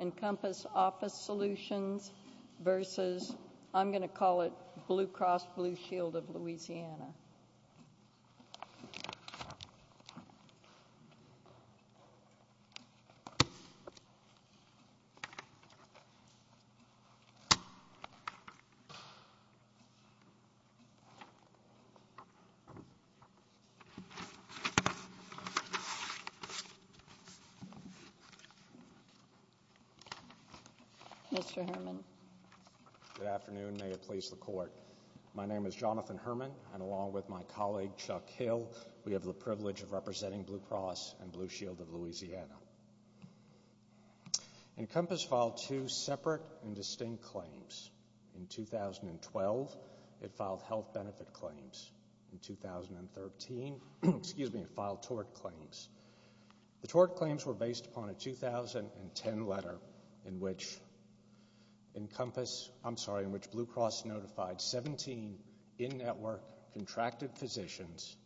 I'm going to call it Blue Cross Blue Shield of Louisiana. Mr. Herman. Good afternoon. May it please the Court. My name is Jonathan Herman, and along with my colleague, Chuck Hill, we have the privilege of representing Blue Cross and Blue Shield of Louisiana. Encompass filed two separate and distinct claims. In 2012, it filed health benefit claims. In 2013, it filed tort claims. The tort claims were based upon a 2010 letter in which Blue Cross notified 17 in-network contracted physicians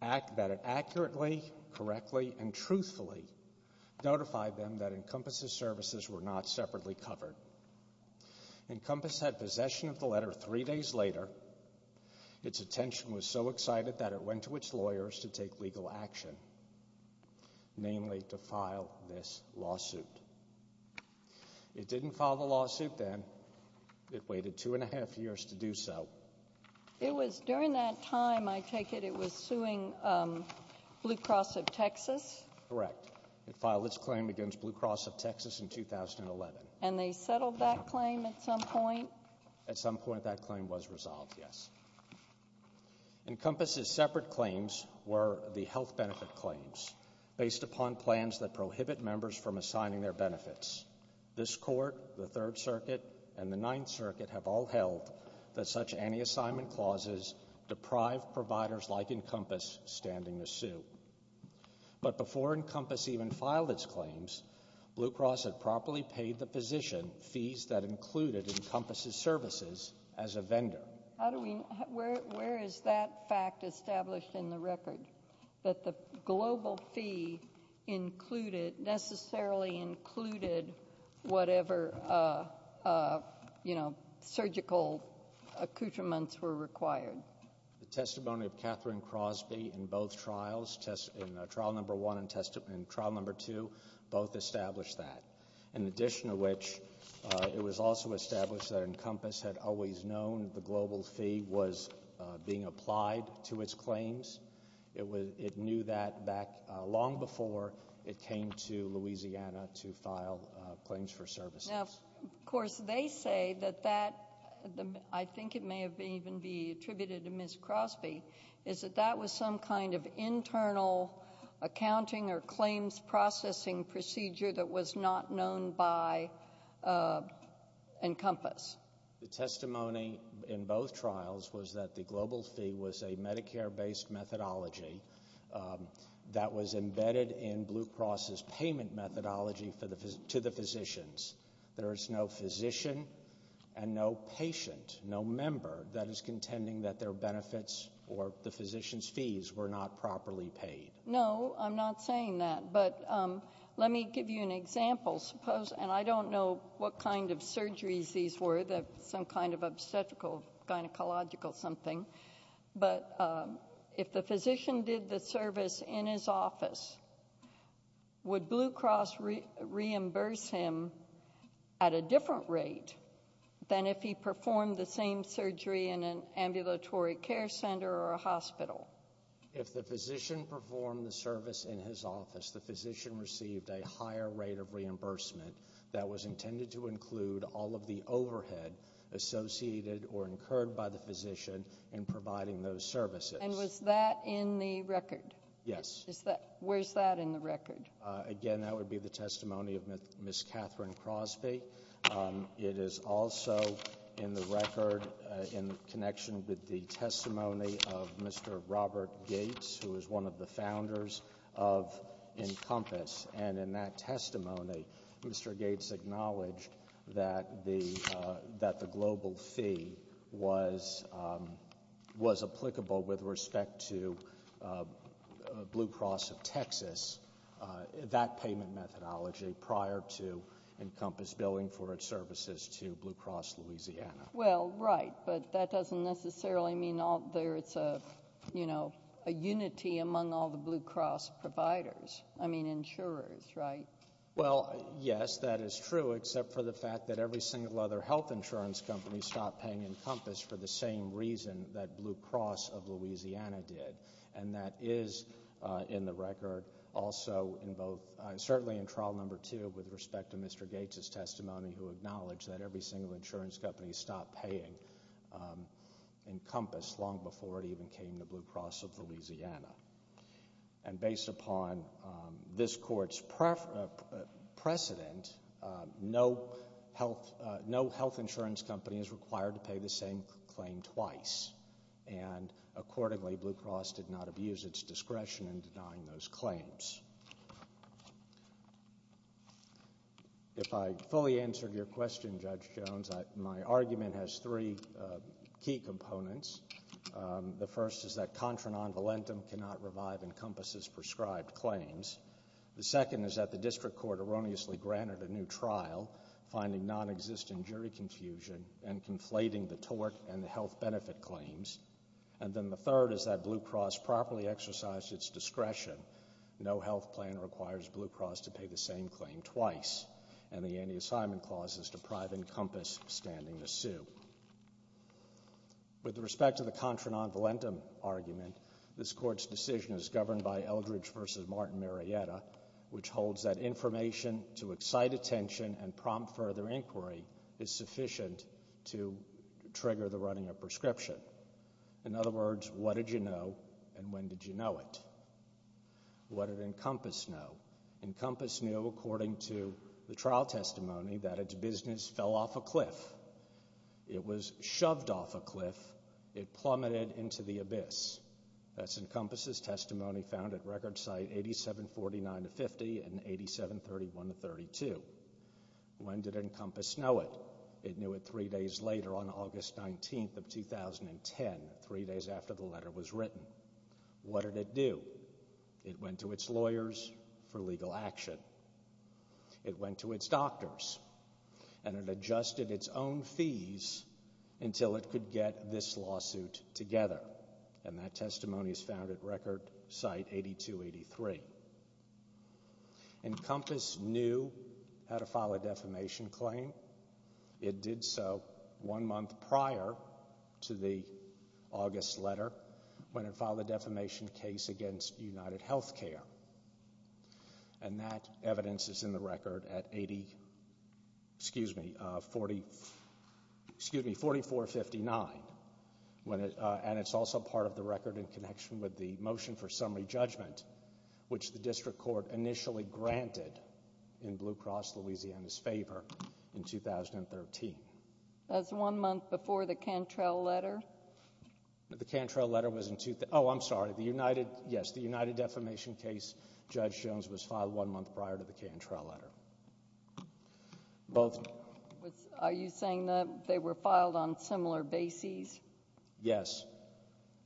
that it accurately, correctly, and truthfully notified them that Encompass's services were not separately covered. Encompass had possession of the letter three days later. Its attention was so excited that it went to its lawyers to take legal action, namely to file this lawsuit. It didn't file the lawsuit then. It waited two and a half years to do so. It was during that time, I take it it was suing Blue Cross of Texas? Correct. It filed its claim against Blue Cross of Texas in 2011. And they settled that claim at some point? At some point that claim was resolved, yes. Encompass's separate claims were the health benefit claims, based upon plans that prohibit members from assigning their benefits. This Court, the Third Circuit, and the Ninth Circuit have all held that such anti-assignment clauses deprive providers like Encompass standing to sue. But before Encompass even filed its claims, Blue Cross had properly paid the physician fees that included Encompass's services as a vendor. Where is that fact established in the record? That the global fee included, necessarily included, whatever, you know, surgical accoutrements were required? The testimony of Catherine Crosby in both trials, trial number one and trial number two, both established that. In addition to which, it was also established that Encompass had always known the global fee was being applied to its claims. It knew that back long before it came to Louisiana to file claims for services. Now, of course, they say that that, I think it may even be attributed to Ms. Crosby, is that that was some kind of internal accounting or claims processing procedure that was not known by Encompass. The testimony in both trials was that the global fee was a Medicare-based methodology that was embedded in Blue Cross's payment methodology to the physicians. There is no physician and no patient, no member, that is contending that their benefits or the physicians' fees were not properly paid. No, I'm not saying that. But let me give you an example. Suppose, and I don't know what kind of surgeries these were, some kind of obstetrical, gynecological something. But if the physician did the service in his office, would Blue Cross reimburse him at a different rate than if he performed the same surgery in an ambulatory care center or a hospital? If the physician performed the service in his office, the physician received a higher rate of reimbursement that was intended to include all of the overhead associated or incurred by the physician in providing those services. And was that in the record? Yes. Where's that in the record? Again, that would be the testimony of Ms. Catherine Crosby. It is also in the record in connection with the testimony of Mr. Robert Gates, who is one of the founders of Encompass. And in that testimony, Mr. Gates acknowledged that the global fee was applicable with respect to Blue Cross of Texas, that payment methodology, prior to Encompass billing for its services to Blue Cross Louisiana. Well, right. But that doesn't necessarily mean there's a unity among all the Blue Cross providers. I mean insurers, right? Well, yes, that is true, except for the fact that every single other health insurance company stopped paying Encompass for the same reason that Blue Cross of Louisiana did. And that is in the record also in both, certainly in trial number two, with respect to Mr. Gates' testimony, who acknowledged that every single insurance company stopped paying Encompass long before it even came to Blue Cross of Louisiana. And based upon this court's precedent, no health insurance company is required to pay the same claim twice. And accordingly, Blue Cross did not abuse its discretion in denying those claims. If I fully answered your question, Judge Jones, my argument has three key components. The first is that contra non volentem cannot revive Encompass's prescribed claims. The second is that the district court erroneously granted a new trial, finding nonexistent jury confusion and conflating the tort and the health benefit claims. And then the third is that Blue Cross properly exercised its discretion. No health plan requires Blue Cross to pay the same claim twice. And the anti-assignment clause is to prive Encompass of standing the suit. With respect to the contra non volentem argument, this court's decision is governed by Eldridge v. Martin Marietta, which holds that information to excite attention and prompt further inquiry is sufficient to trigger the running of prescription. In other words, what did you know and when did you know it? What did Encompass know? Encompass knew, according to the trial testimony, that its business fell off a cliff. It was shoved off a cliff. It plummeted into the abyss. That's Encompass's testimony found at record site 8749-50 and 8731-32. When did Encompass know it? It knew it three days later on August 19th of 2010, three days after the letter was written. What did it do? It went to its lawyers for legal action. It went to its doctors. And it adjusted its own fees until it could get this lawsuit together. And that testimony is found at record site 8283. Encompass knew how to file a defamation claim. It did so one month prior to the August letter when it filed a defamation case against UnitedHealthcare. And that evidence is in the record at 4459. And it's also part of the record in connection with the motion for summary judgment, which the district court initially granted in Blue Cross Louisiana's favor in 2013. That's one month before the Cantrell letter? The Cantrell letter was in 2013. Oh, I'm sorry. Yes, the UnitedDefamation case, Judge Jones, was filed one month prior to the Cantrell letter. Are you saying that they were filed on similar bases? Yes.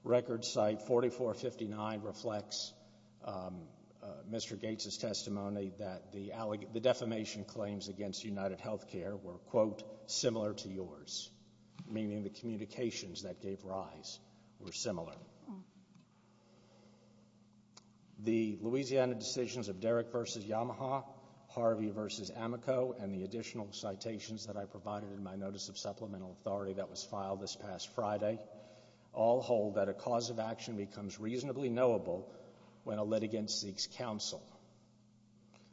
Record site 4459 reflects Mr. Gates' testimony that the defamation claims against UnitedHealthcare were, quote, and the communications that gave rise were similar. The Louisiana decisions of Derrick v. Yamaha, Harvey v. Amico, and the additional citations that I provided in my notice of supplemental authority that was filed this past Friday all hold that a cause of action becomes reasonably knowable when a litigant seeks counsel.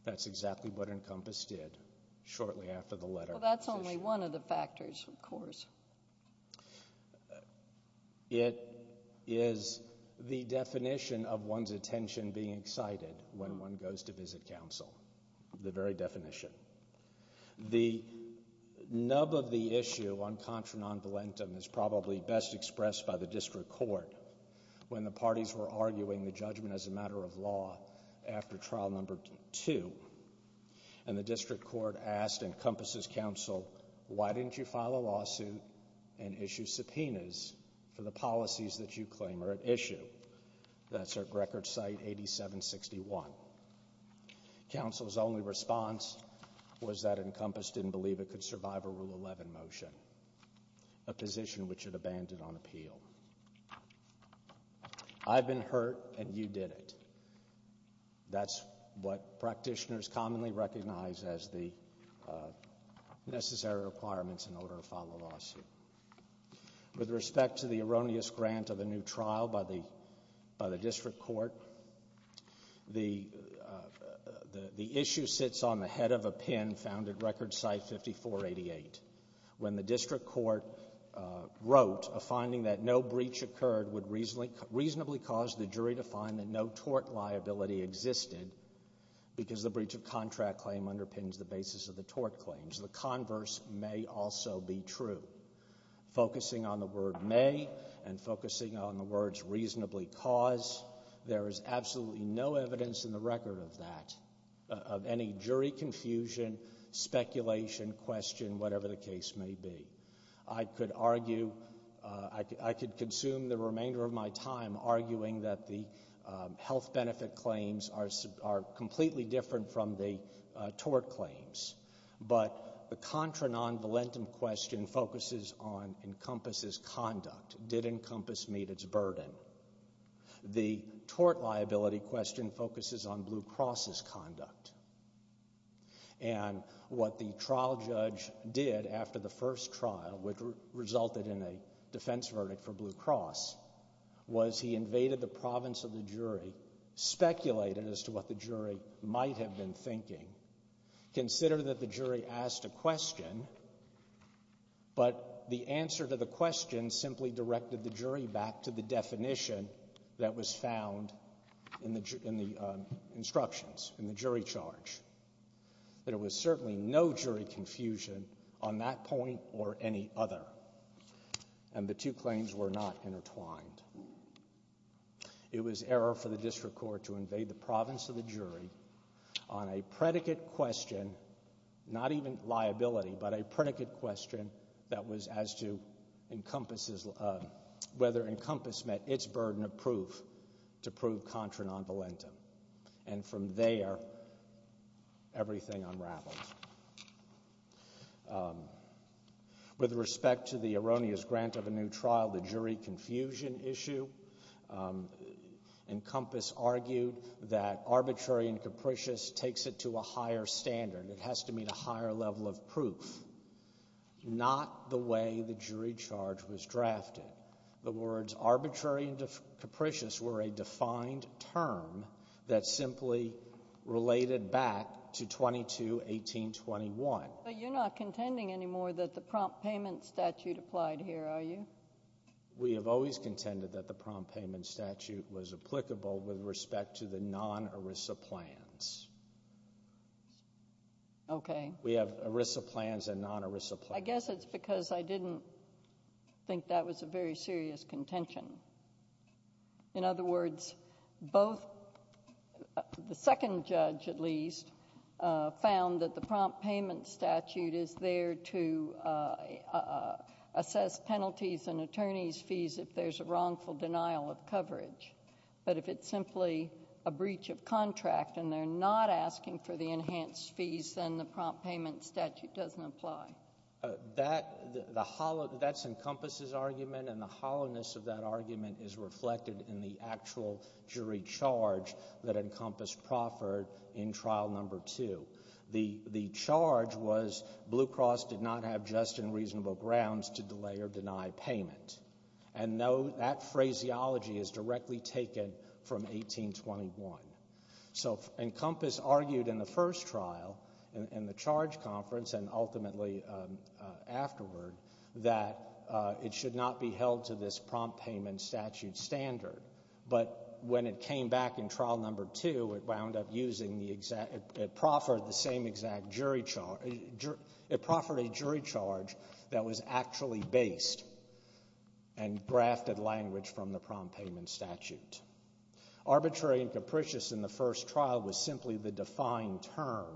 That's exactly what Encompass did shortly after the letter. Well, that's only one of the factors, of course. It is the definition of one's attention being excited when one goes to visit counsel, the very definition. The nub of the issue on contra non volentem is probably best expressed by the district court when the parties were arguing the judgment as a matter of law after trial number two, and the district court asked Encompass's counsel, why didn't you file a lawsuit and issue subpoenas for the policies that you claim are at issue? That's at record site 8761. Counsel's only response was that Encompass didn't believe it could survive a Rule 11 motion, a position which it abandoned on appeal. I've been hurt, and you did it. That's what practitioners commonly recognize as the necessary requirements in order to file a lawsuit. With respect to the erroneous grant of a new trial by the district court, the issue sits on the head of a pen found at record site 5488. When the district court wrote a finding that no breach occurred would reasonably cause the jury to find that no tort liability existed because the breach of contract claim underpins the basis of the tort claims, the converse may also be true. Focusing on the word may and focusing on the words reasonably cause, there is absolutely no evidence in the record of that, of any jury confusion, speculation, question, whatever the case may be. I could argue, I could consume the remainder of my time arguing that the health benefit claims are completely different from the tort claims, but the contra non-valentum question focuses on Encompass's conduct. Did Encompass meet its burden? The tort liability question focuses on Blue Cross's conduct. And what the trial judge did after the first trial, which resulted in a defense verdict for Blue Cross, was he invaded the province of the jury, speculated as to what the jury might have been thinking, considered that the jury asked a question, but the answer to the question simply directed the jury back to the definition that was found in the instructions, in the jury charge, that it was certainly no jury confusion on that point or any other, and the two claims were not intertwined. It was error for the district court to invade the province of the jury on a predicate question, not even liability, but a predicate question that was as to whether Encompass met its burden of proof to prove contra non-valentum. And from there, everything unraveled. With respect to the erroneous grant of a new trial, the jury confusion issue, Encompass argued that arbitrary and capricious takes it to a higher standard. It has to meet a higher level of proof, not the way the jury charge was drafted. The words arbitrary and capricious were a defined term that simply related back to 22-1821. But you're not contending anymore that the prompt payment statute applied here, are you? We have always contended that the prompt payment statute was applicable with respect to the non-ERISA plans. Okay. We have ERISA plans and non-ERISA plans. I guess it's because I didn't think that was a very serious contention. In other words, both the second judge, at least, found that the prompt payment statute is there to assess penalties But if it's simply a breach of contract and they're not asking for the enhanced fees, then the prompt payment statute doesn't apply. That's Encompass's argument, and the hollowness of that argument is reflected in the actual jury charge that Encompass proffered in Trial No. 2. The charge was Blue Cross did not have just and reasonable grounds to delay or deny payment. And no, that phraseology is directly taken from 1821. So Encompass argued in the first trial, in the charge conference and ultimately afterward, that it should not be held to this prompt payment statute standard. But when it came back in Trial No. 2, it wound up using the exact – it proffered a jury charge that was actually based and grafted language from the prompt payment statute. Arbitrary and capricious in the first trial was simply the defined term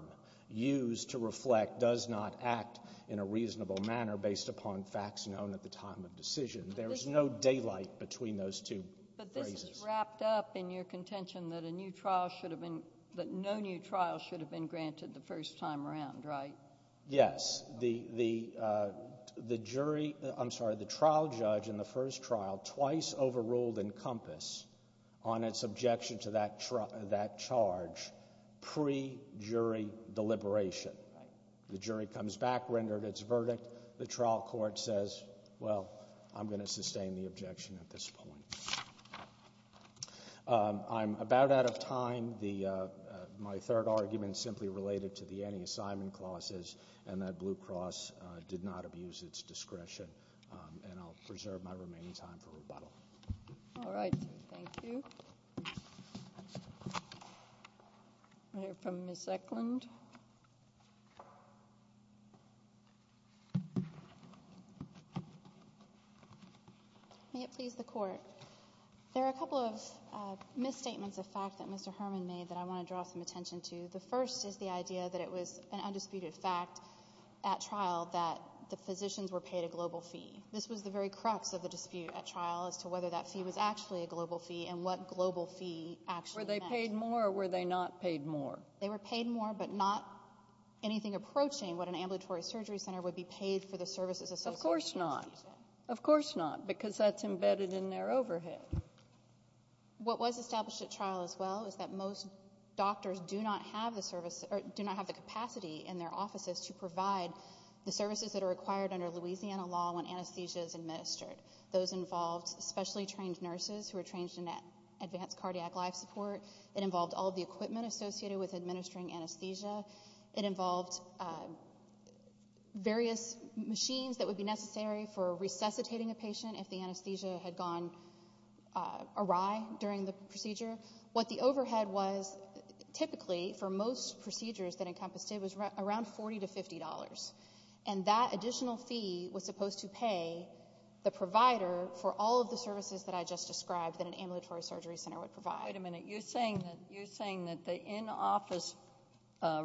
used to reflect does not act in a reasonable manner based upon facts known at the time of decision. There is no daylight between those two phrases. But this is wrapped up in your contention that a new trial should have been – Yes. The jury – I'm sorry, the trial judge in the first trial twice overruled Encompass on its objection to that charge pre-jury deliberation. The jury comes back, rendered its verdict. The trial court says, well, I'm going to sustain the objection at this point. I'm about out of time. My third argument is simply related to the anti-assignment clauses and that Blue Cross did not abuse its discretion. And I'll preserve my remaining time for rebuttal. All right. Thank you. We'll hear from Ms. Eklund. Ms. Eklund. May it please the Court, there are a couple of misstatements of fact that Mr. Herman made that I want to draw some attention to. The first is the idea that it was an undisputed fact at trial that the physicians were paid a global fee. This was the very crux of the dispute at trial as to whether that fee was actually a global fee and what global fee actually meant. Were they paid more or were they not paid more? They were paid more, but not anything approaching what an ambulatory surgery center would be paid for the services associated with anesthesia. Of course not. Of course not, because that's embedded in their overhead. What was established at trial as well is that most doctors do not have the capacity in their offices to provide the services that are required under Louisiana law when anesthesia is administered. Those involved specially trained nurses who are trained in advanced cardiac life support. It involved all the equipment associated with administering anesthesia. It involved various machines that would be necessary for resuscitating a patient if the anesthesia had gone awry during the procedure. What the overhead was typically for most procedures that encompassed it was around $40 to $50. And that additional fee was supposed to pay the provider for all of the services that I just described that an ambulatory surgery center would provide. Wait a minute. You're saying that the in-office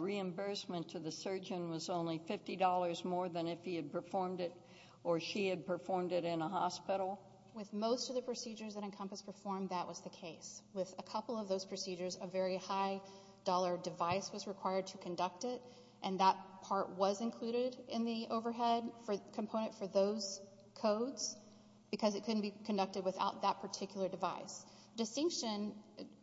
reimbursement to the surgeon was only $50 more than if he had performed it or she had performed it in a hospital? With most of the procedures that Encompass performed, that was the case. With a couple of those procedures, a very high-dollar device was required to conduct it, and that part was included in the overhead component for those codes because it couldn't be conducted without that particular device. The distinction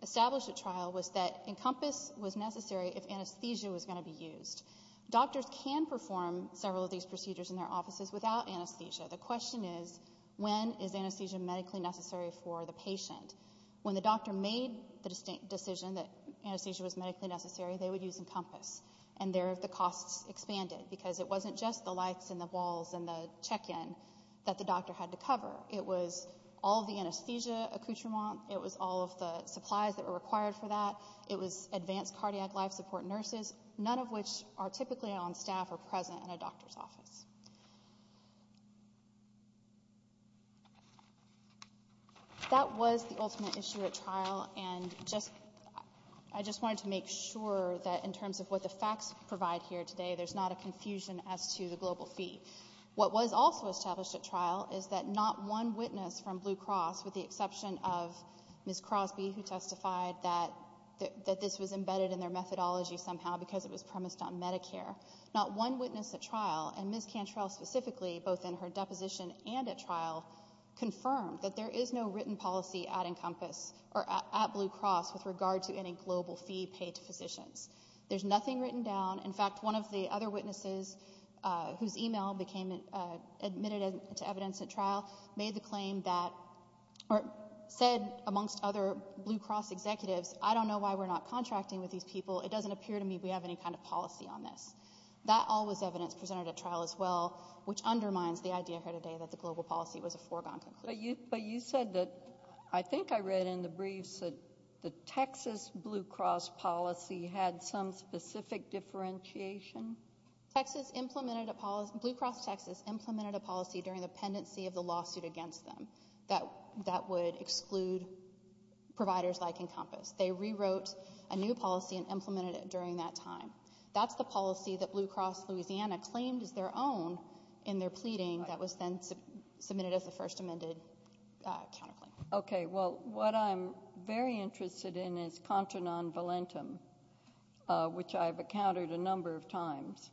established at trial was that Encompass was necessary if anesthesia was going to be used. Doctors can perform several of these procedures in their offices without anesthesia. The question is, when is anesthesia medically necessary for the patient? When the doctor made the decision that anesthesia was medically necessary, they would use Encompass, and there the costs expanded because it wasn't just the lights and the walls and the check-in that the doctor had to cover. It was all the anesthesia accoutrement. It was all of the supplies that were required for that. It was advanced cardiac life support nurses, none of which are typically on staff or present in a doctor's office. That was the ultimate issue at trial, and I just wanted to make sure that in terms of what the facts provide here today, there's not a confusion as to the global fee. What was also established at trial is that not one witness from Blue Cross, with the exception of Ms. Crosby who testified that this was embedded in their methodology somehow because it was premised on Medicare, not one witness at trial, and Ms. Cantrell specifically, both in her deposition and at trial, confirmed that there is no written policy at Blue Cross with regard to any global fee paid to physicians. There's nothing written down. In fact, one of the other witnesses whose e-mail became admitted to evidence at trial said amongst other Blue Cross executives, I don't know why we're not contracting with these people. It doesn't appear to me we have any kind of policy on this. That all was evidence presented at trial as well, which undermines the idea here today that the global policy was a foregone conclusion. But you said that, I think I read in the briefs, that the Texas Blue Cross policy had some specific differentiation. Blue Cross Texas implemented a policy during the pendency of the lawsuit against them that would exclude providers like Encompass. They rewrote a new policy and implemented it during that time. That's the policy that Blue Cross Louisiana claimed is their own in their pleading that was then submitted as the first amended counterclaim. Okay. Well, what I'm very interested in is contra non volentum, which I've encountered a number of times.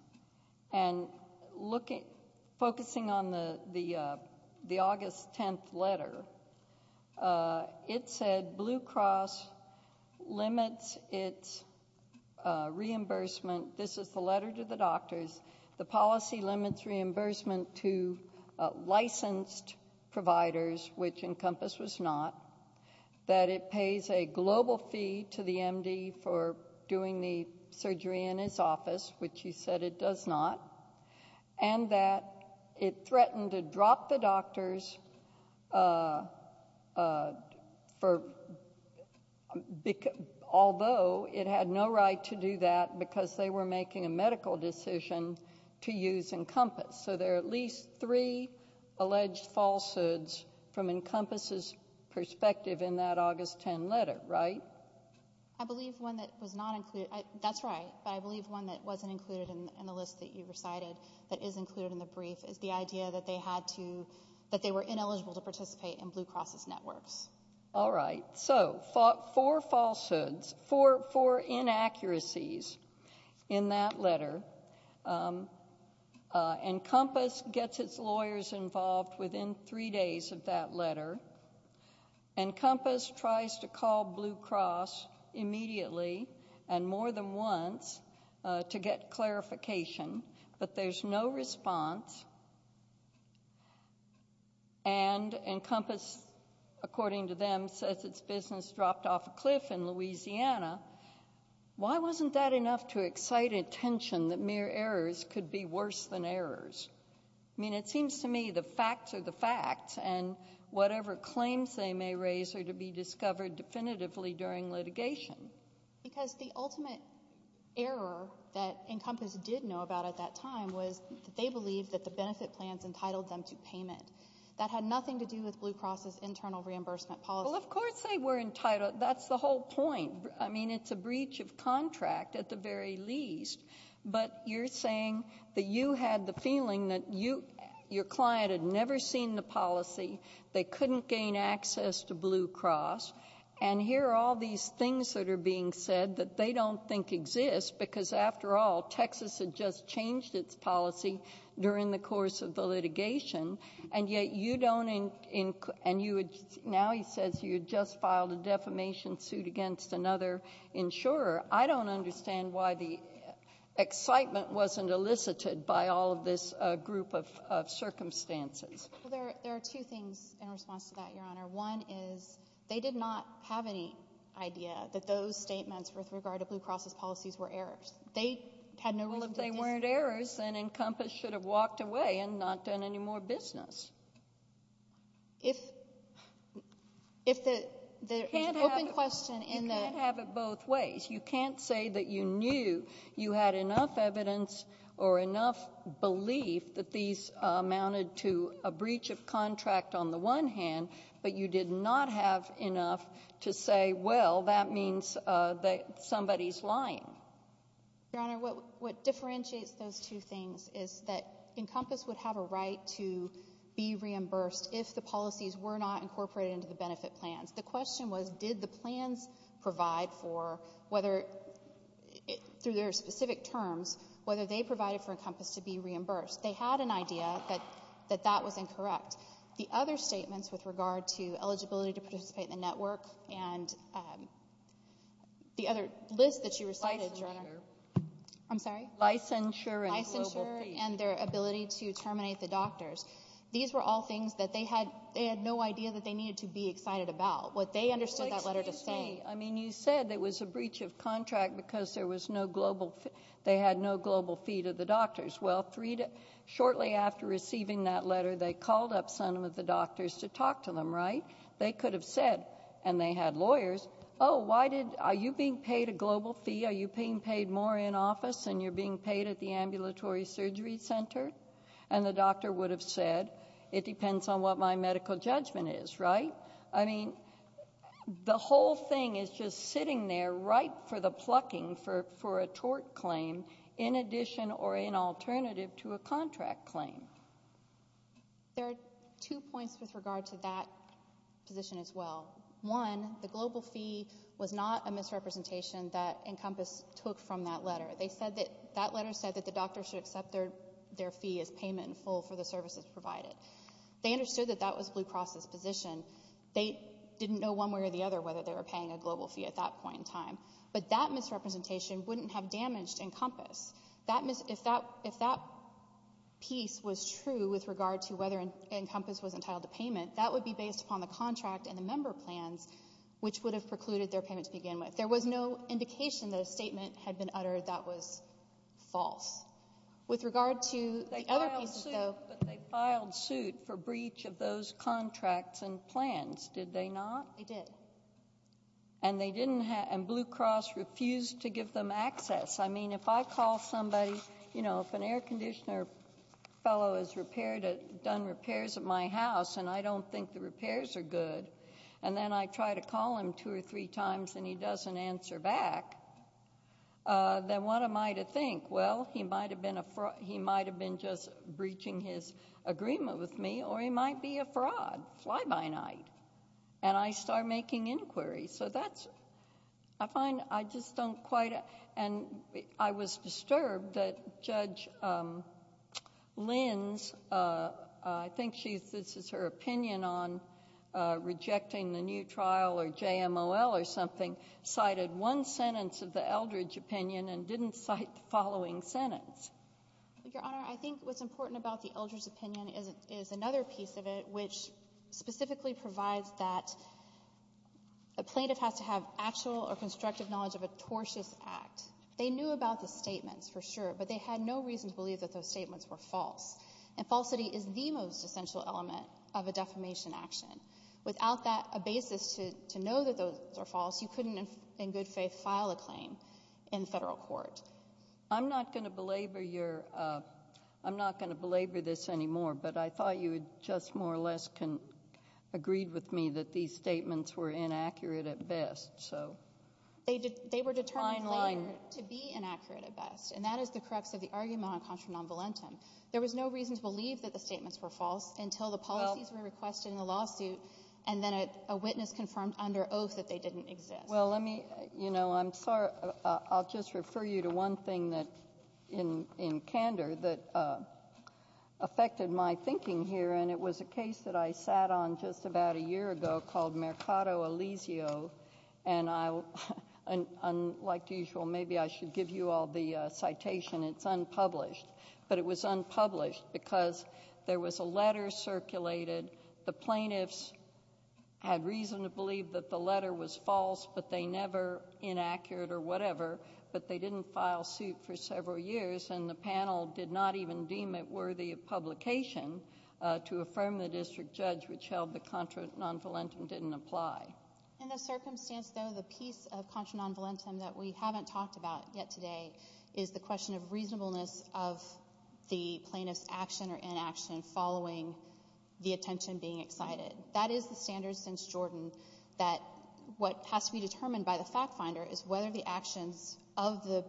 And focusing on the August 10th letter, it said, Blue Cross limits its reimbursement. This is the letter to the doctors. The policy limits reimbursement to licensed providers, which Encompass was not. That it pays a global fee to the MD for doing the surgery in his office, which he said it does not. And that it threatened to drop the doctors, although it had no right to do that because they were making a medical decision to use Encompass. So there are at least three alleged falsehoods from Encompass's perspective in that August 10th letter, right? I believe one that was not included. That's right. But I believe one that wasn't included in the list that you recited that is included in the brief is the idea that they were ineligible to participate in Blue Cross's networks. All right. So four falsehoods, four inaccuracies in that letter. Encompass gets its lawyers involved within three days of that letter. Encompass tries to call Blue Cross immediately and more than once to get clarification, but there's no response. And Encompass, according to them, says its business dropped off a cliff in Louisiana. Why wasn't that enough to excite attention that mere errors could be worse than errors? I mean, it seems to me the facts are the facts, and whatever claims they may raise are to be discovered definitively during litigation. Because the ultimate error that Encompass did know about at that time was that they believed that the benefit plans entitled them to payment. That had nothing to do with Blue Cross's internal reimbursement policy. Well, of course they were entitled. That's the whole point. I mean, it's a breach of contract at the very least, but you're saying that you had the feeling that your client had never seen the policy, they couldn't gain access to Blue Cross, and here are all these things that are being said that they don't think exist because, after all, Texas had just changed its policy during the course of the litigation, and yet you don't encourage them. Now he says you just filed a defamation suit against another insurer. I don't understand why the excitement wasn't elicited by all of this group of circumstances. Well, there are two things in response to that, Your Honor. One is they did not have any idea that those statements with regard to Blue Cross's policies were errors. They had no relation to this. Well, if they weren't errors, then Encompass should have walked away and not done any more business. If the open question in the ---- You can't have it both ways. You can't say that you knew you had enough evidence or enough belief that these amounted to a breach of contract on the one hand, but you did not have enough to say, well, that means that somebody's lying. Your Honor, what differentiates those two things is that Encompass would have a right to be reimbursed if the policies were not incorporated into the benefit plans. The question was did the plans provide for whether, through their specific terms, whether they provided for Encompass to be reimbursed. They had an idea that that was incorrect. The other statements with regard to eligibility to participate in the network and the other list that you recited, Your Honor. Licensure. I'm sorry? Licensure and global fee. Licensure and their ability to terminate the doctors. These were all things that they had no idea that they needed to be excited about. What they understood that letter to say ---- Well, excuse me. I mean, you said it was a breach of contract because there was no global fee. They had no global fee to the doctors. Well, shortly after receiving that letter, they called up some of the doctors to talk to them, right? They could have said, and they had lawyers, oh, are you being paid a global fee? Are you being paid more in office than you're being paid at the ambulatory surgery center? And the doctor would have said, it depends on what my medical judgment is, right? I mean, the whole thing is just sitting there ripe for the plucking for a tort claim in addition or in alternative to a contract claim. There are two points with regard to that position as well. One, the global fee was not a misrepresentation that Encompass took from that letter. That letter said that the doctor should accept their fee as payment in full for the services provided. They understood that that was Blue Cross's position. They didn't know one way or the other whether they were paying a global fee at that point in time. But that misrepresentation wouldn't have damaged Encompass. If that piece was true with regard to whether Encompass was entitled to payment, that would be based upon the contract and the member plans, which would have precluded their payment to begin with. There was no indication that a statement had been uttered that was false. They filed suit for breach of those contracts and plans, did they not? They did. And Blue Cross refused to give them access. I mean, if I call somebody, you know, if an air conditioner fellow has done repairs at my house and I don't think the repairs are good, and then I try to call him two or three times and he doesn't answer back, then what am I to think? Well, he might have been just breaching his agreement with me, or he might be a fraud. Fly by night. And I start making inquiries. So that's, I find, I just don't quite, and I was disturbed that Judge Lins, I think this is her opinion on rejecting the new trial or JMOL or something, cited one sentence of the Eldridge opinion and didn't cite the following sentence. Your Honor, I think what's important about the Eldridge opinion is another piece of it, which specifically provides that a plaintiff has to have actual or constructive knowledge of a tortious act. They knew about the statements, for sure, but they had no reason to believe that those statements were false. And falsity is the most essential element of a defamation action. Without a basis to know that those are false, you couldn't, in good faith, file a claim in federal court. I'm not going to belabor your, I'm not going to belabor this anymore, but I thought you had just more or less agreed with me that these statements were inaccurate at best, so. They were determined later to be inaccurate at best, and that is the crux of the argument on contra non volentem. There was no reason to believe that the statements were false until the policies were requested in the lawsuit, and then a witness confirmed under oath that they didn't exist. Well, let me, you know, I'm sorry, I'll just refer you to one thing that, in candor, that affected my thinking here, and it was a case that I sat on just about a year ago called Mercado Alizio, and I, unlike usual, maybe I should give you all the citation. It's unpublished, but it was unpublished because there was a letter circulated. The plaintiffs had reason to believe that the letter was false, but they never inaccurate or whatever, but they didn't file suit for several years, and the panel did not even deem it worthy of publication to affirm the district judge, which held that contra non volentem didn't apply. In the circumstance, though, the piece of contra non volentem that we haven't talked about yet today is the question of reasonableness of the plaintiff's action or inaction following the attention being excited. That is the standard since Jordan that what has to be determined by the fact finder is whether the actions of the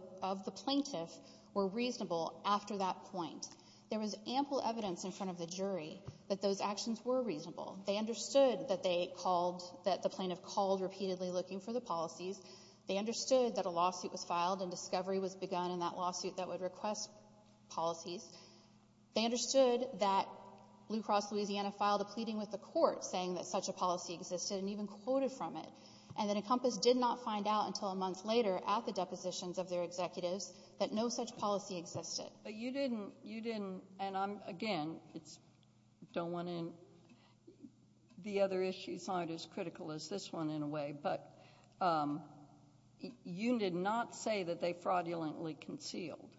plaintiff were reasonable after that point. There was ample evidence in front of the jury that those actions were reasonable. They understood that they called, that the plaintiff called repeatedly looking for the policies. They understood that a lawsuit was filed and discovery was begun in that lawsuit that would request policies. They understood that Blue Cross Louisiana filed a pleading with the court saying that such a policy existed and even quoted from it. And then Encompass did not find out until a month later at the depositions of their executives that no such policy existed. But you didn't. You didn't. And again, it's don't want to. The other issues aren't as critical as this one in a way, but you did not say that they fraudulently concealed.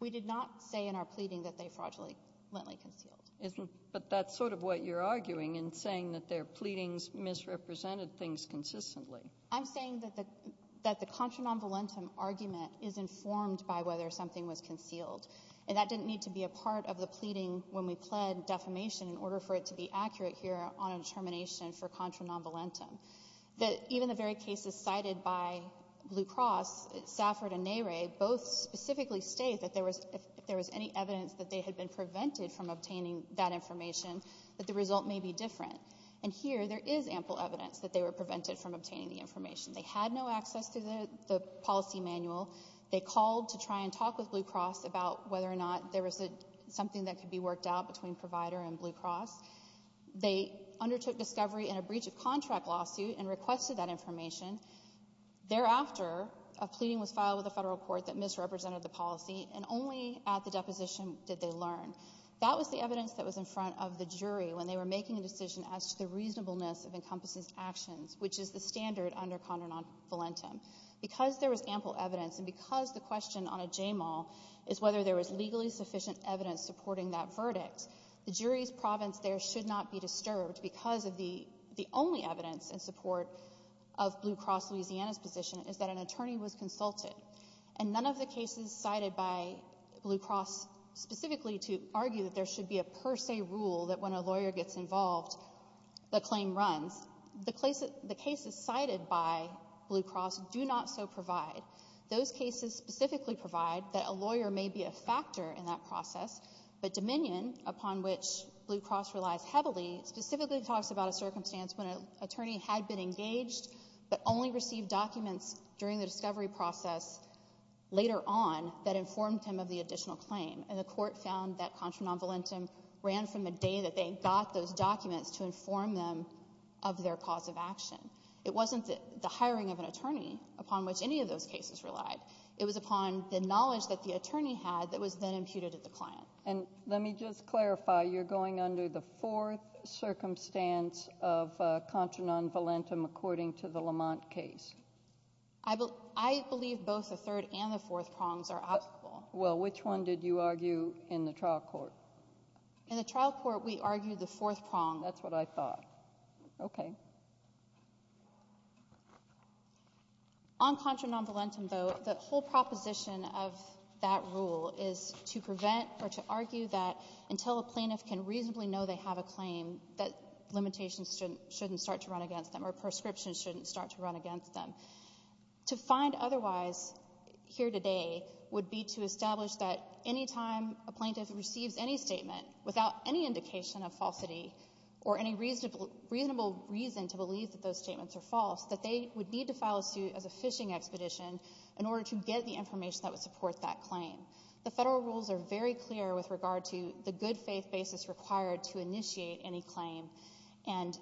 We did not say in our pleading that they fraudulently concealed. But that's sort of what you're arguing in saying that their pleadings misrepresented things consistently. I'm saying that the that the contra non-valentum argument is informed by whether something was concealed. And that didn't need to be a part of the pleading when we pled defamation in order for it to be accurate here on a determination for contra non-valentum. That even the very cases cited by Blue Cross, Safford and Nere, both specifically state that there was if there was any evidence that they had been prevented from obtaining that information, that the result may be different. And here there is ample evidence that they were prevented from obtaining the information. They had no access to the policy manual. They called to try and talk with Blue Cross about whether or not there was something that could be worked out between provider and Blue Cross. They undertook discovery in a breach of contract lawsuit and requested that information. Thereafter, a pleading was filed with the federal court that misrepresented the policy and only at the deposition did they learn. That was the evidence that was in front of the jury when they were making a decision as to the reasonableness of encompasses actions, which is the standard under contra non-valentum. Because there was ample evidence and because the question on a J-Mall is whether there was legally sufficient evidence supporting that verdict, the jury's province there should not be disturbed because of the the only evidence in support of Blue Cross Louisiana's position is that an attorney was consulted. And none of the cases cited by Blue Cross specifically to argue that there should be a per se rule that when a lawyer gets involved, the claim runs. The cases cited by Blue Cross do not so provide. Those cases specifically provide that a lawyer may be a factor in that process, but Dominion, upon which Blue Cross relies heavily, specifically talks about a circumstance when an attorney had been engaged but only received documents during the discovery process later on that informed him of the additional claim. And the court found that contra non-valentum ran from the day that they got those documents to inform them of their cause of action. It wasn't the hiring of an attorney upon which any of those cases relied. It was upon the knowledge that the attorney had that was then imputed at the client. And let me just clarify. You're going under the fourth circumstance of contra non-valentum according to the Lamont case. I believe both the third and the fourth prongs are applicable. Well, which one did you argue in the trial court? In the trial court, we argued the fourth prong. That's what I thought. Okay. On contra non-valentum, though, the whole proposition of that rule is to prevent or to argue that until a plaintiff can reasonably know they have a claim, that limitations shouldn't start to run against them or prescriptions shouldn't start to run against them. To find otherwise here today would be to establish that any time a plaintiff receives any statement without any indication of falsity or any reasonable reason to believe that those statements are false, that they would need to file a suit as a fishing expedition in order to get the information that would support that claim. The federal rules are very clear with regard to the good faith basis required to initiate any claim. And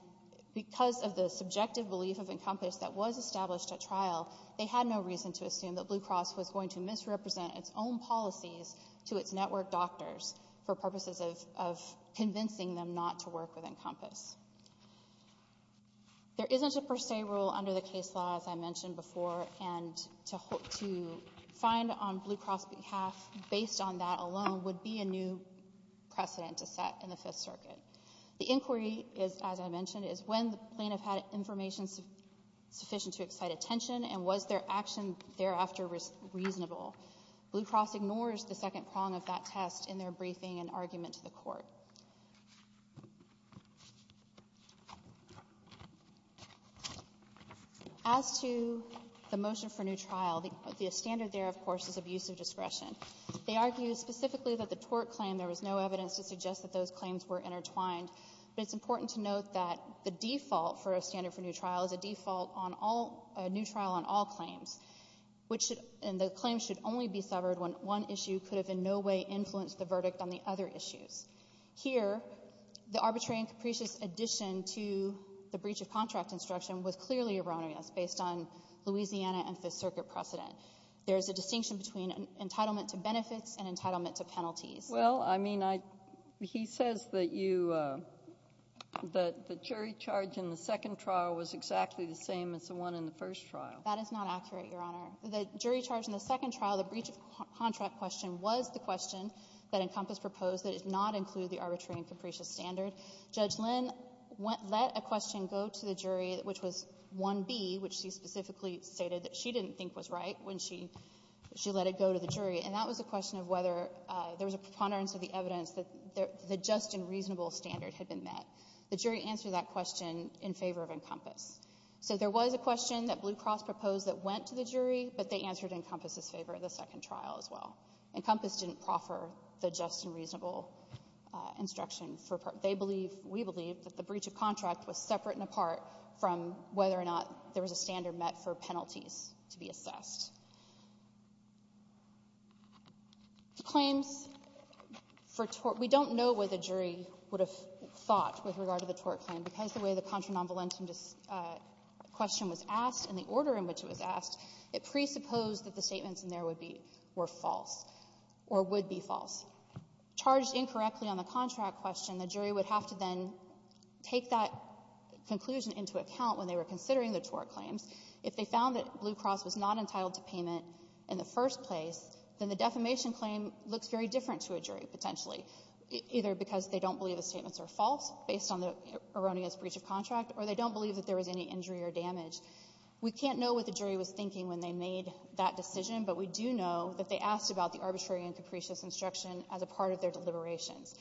because of the subjective belief of Encompass that was established at trial, they had no reason to assume that Blue Cross was going to misrepresent its own policies to its network doctors for purposes of convincing them not to work with Encompass. There isn't a per se rule under the case law, as I mentioned before, and to find on Blue Cross' behalf, based on that alone, would be a new precedent to set in the Fifth Circuit. The inquiry is, as I mentioned, is when the plaintiff had information sufficient to excite attention and was their action thereafter reasonable. Blue Cross ignores the second prong of that test in their briefing and argument to the Court. As to the motion for new trial, the standard there, of course, is abuse of discretion. They argue specifically that the tort claim, there was no evidence to suggest that those claims were intertwined. But it's important to note that the default for a standard for new trial is a default on all new trial on all claims, and the claim should only be severed when one issue could have in no way influenced the verdict on the other issues. Here, the arbitrary and capricious addition to the breach of contract instruction was clearly erroneous based on Louisiana and Fifth Circuit precedent. There is a distinction between entitlement to benefits and entitlement to penalties. Well, I mean, he says that you – that the jury charge in the second trial was exactly the same as the one in the first trial. That is not accurate, Your Honor. The jury charge in the second trial, the breach of contract question, was the question that Encompass proposed that it not include the arbitrary and capricious standard. Judge Lynn let a question go to the jury, which was 1B, which she specifically stated that she didn't think was right when she – she let it go to the jury. And that was a question of whether there was a preponderance of the evidence that the just and reasonable standard had been met. The jury answered that question in favor of Encompass. So there was a question that Blue Cross proposed that went to the jury, but they answered Encompass's favor in the second trial as well. Encompass didn't proffer the just and reasonable instruction for – they believe, we believe, that the breach of contract was separate and apart from whether or not there was a standard met for penalties to be assessed. Claims for tort – we don't know what the jury would have thought with regard to the question was asked and the order in which it was asked, it presupposed that the statements in there would be – were false or would be false. Charged incorrectly on the contract question, the jury would have to then take that conclusion into account when they were considering the tort claims. If they found that Blue Cross was not entitled to payment in the first place, then the defamation claim looks very different to a jury, potentially, either because they don't believe the statements are false based on the erroneous breach of contract or they don't believe that there was any injury or damage. We can't know what the jury was thinking when they made that decision, but we do know that they asked about the arbitrary and capricious instruction as a part of their deliberations.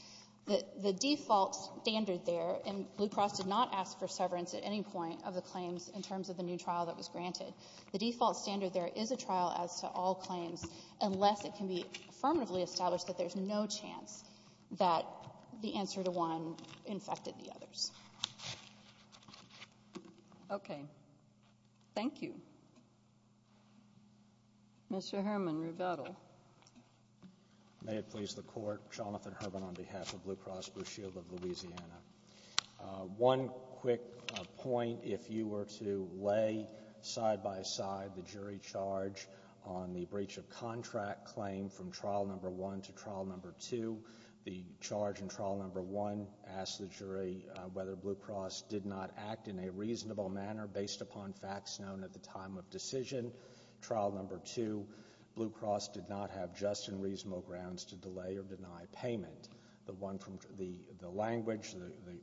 The default standard there – and Blue Cross did not ask for severance at any point of the claims in terms of the new trial that was granted. The default standard there is a trial as to all claims unless it can be affirmatively established that there's no chance that the answer to one infected the others. Okay. Thank you. Mr. Herman, Revetil. May it please the Court. Jonathan Herman on behalf of Blue Cross Blue Shield of Louisiana. One quick point. If you were to lay side by side the jury charge on the trial No. 1 to trial No. 2, the charge in trial No. 1 asks the jury whether Blue Cross did not act in a reasonable manner based upon facts known at the time of decision. Trial No. 2, Blue Cross did not have just and reasonable grounds to delay or deny payment. The language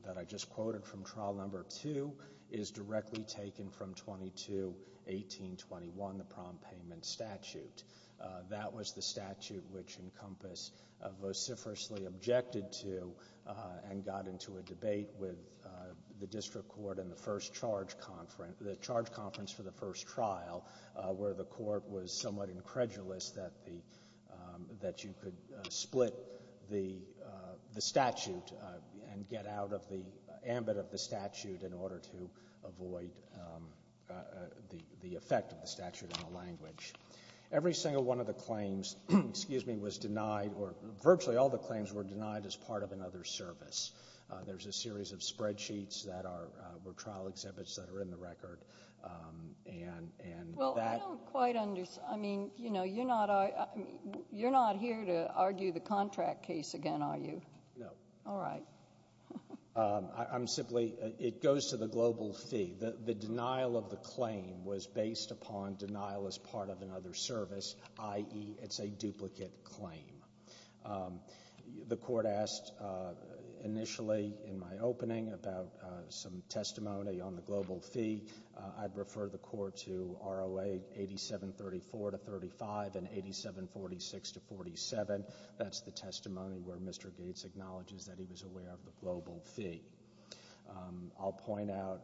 that I just quoted from trial No. 2 is directly taken from 22-1821, the prompt payment statute. That was the statute which Encompass vociferously objected to and got into a debate with the district court in the first charge conference – the charge conference for the first trial where the court was somewhat incredulous that you could split the statute and get out of the ambit of the statute in order to avoid the effect of the statute on the language. Every single one of the claims was denied or virtually all the claims were denied as part of another service. There's a series of spreadsheets that were trial exhibits that are in the record. Well, I don't quite understand. You're not here to argue the contract case again, are you? No. All right. I'm simply – it goes to the global fee. The denial of the claim was based upon denial as part of another service, i.e., it's a duplicate claim. The court asked initially in my opening about some testimony on the global fee. I'd refer the court to ROA 8734-35 and 8746-47. That's the testimony where Mr. Gates acknowledges that he was aware of the global fee. I'll point out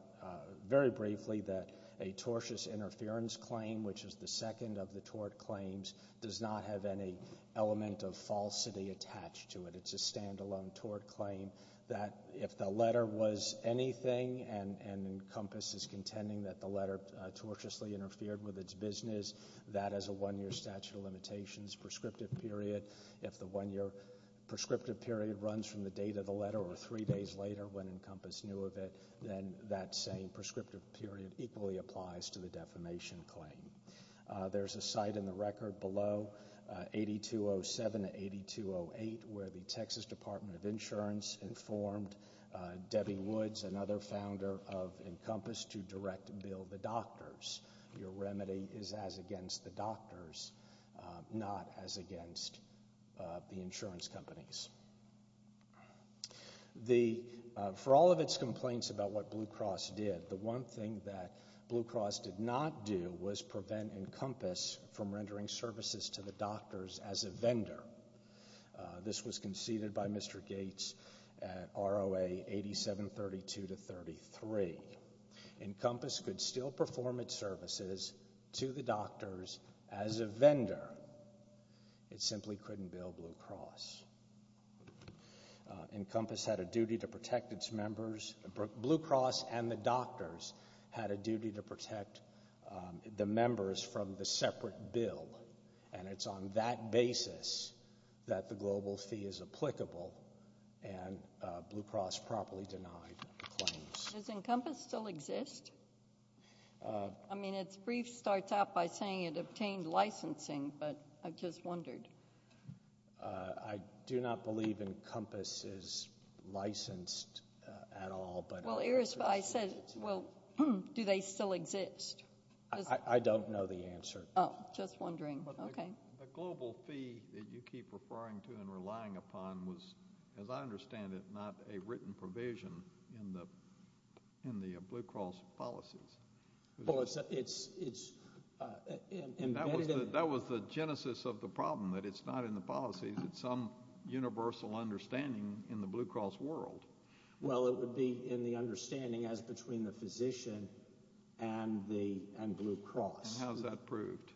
very briefly that a tortious interference claim, which is the second of the tort claims, does not have any element of falsity attached to it. It's a standalone tort claim that if the letter was anything and Encompass is contending that the letter tortiously interfered with its business, that is a one-year statute of limitations prescriptive period. If the one-year prescriptive period runs from the date of the letter or three days later when Encompass knew of it, then that same prescriptive period equally applies to the defamation claim. There's a site in the record below, 8207-8208, where the Texas Department of Insurance informed Debbie Woods, another founder of Encompass, to direct Bill the doctors. Your remedy is as against the doctors, not as against the insurance companies. For all of its complaints about what Blue Cross did, the one thing that Blue Cross did not do was prevent Encompass from rendering services to the doctors as a vendor. This was conceded by Mr. Gates at ROA 8732-33. Encompass could still perform its services to the doctors as a vendor. It simply couldn't bill Blue Cross. Blue Cross and the doctors had a duty to protect the members from the separate bill, and it's on that basis that the global fee is applicable, and Blue Cross properly denied the claims. Does Encompass still exist? I mean, its brief starts out by saying it obtained licensing, but I just wondered. I do not believe Encompass is licensed at all. Well, I said, well, do they still exist? I don't know the answer. Oh, just wondering. Okay. The global fee that you keep referring to and relying upon was, as I understand it, not a written provision in the Blue Cross policies. Well, it's embedded. That was the genesis of the problem, that it's not in the policies. It's some universal understanding in the Blue Cross world. Well, it would be in the understanding as between the physician and Blue Cross. And how's that proved,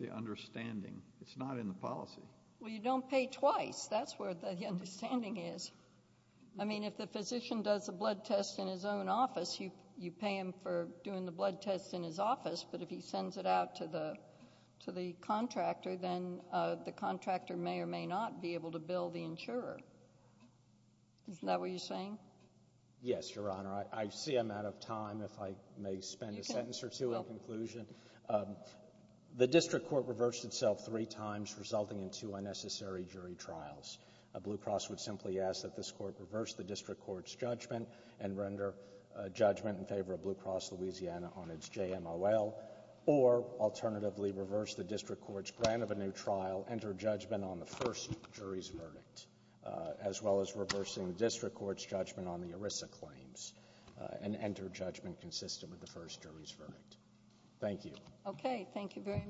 the understanding? It's not in the policy. Well, you don't pay twice. That's where the understanding is. I mean, if the physician does a blood test in his own office, you pay him for doing the blood test in his office, but if he sends it out to the contractor, then the contractor may or may not be able to bill the insurer. Isn't that what you're saying? Yes, Your Honor. I see I'm out of time, if I may spend a sentence or two in conclusion. The district court reversed itself three times, resulting in two unnecessary jury trials. Blue Cross would simply ask that this court reverse the district court's judgment and render judgment in favor of Blue Cross Louisiana on its JMOL, or alternatively reverse the district court's grant of a new trial, enter judgment on the first jury's verdict, as well as reversing the district court's judgment on the ERISA claims and enter judgment consistent with the first jury's verdict. Thank you. Okay, thank you very much.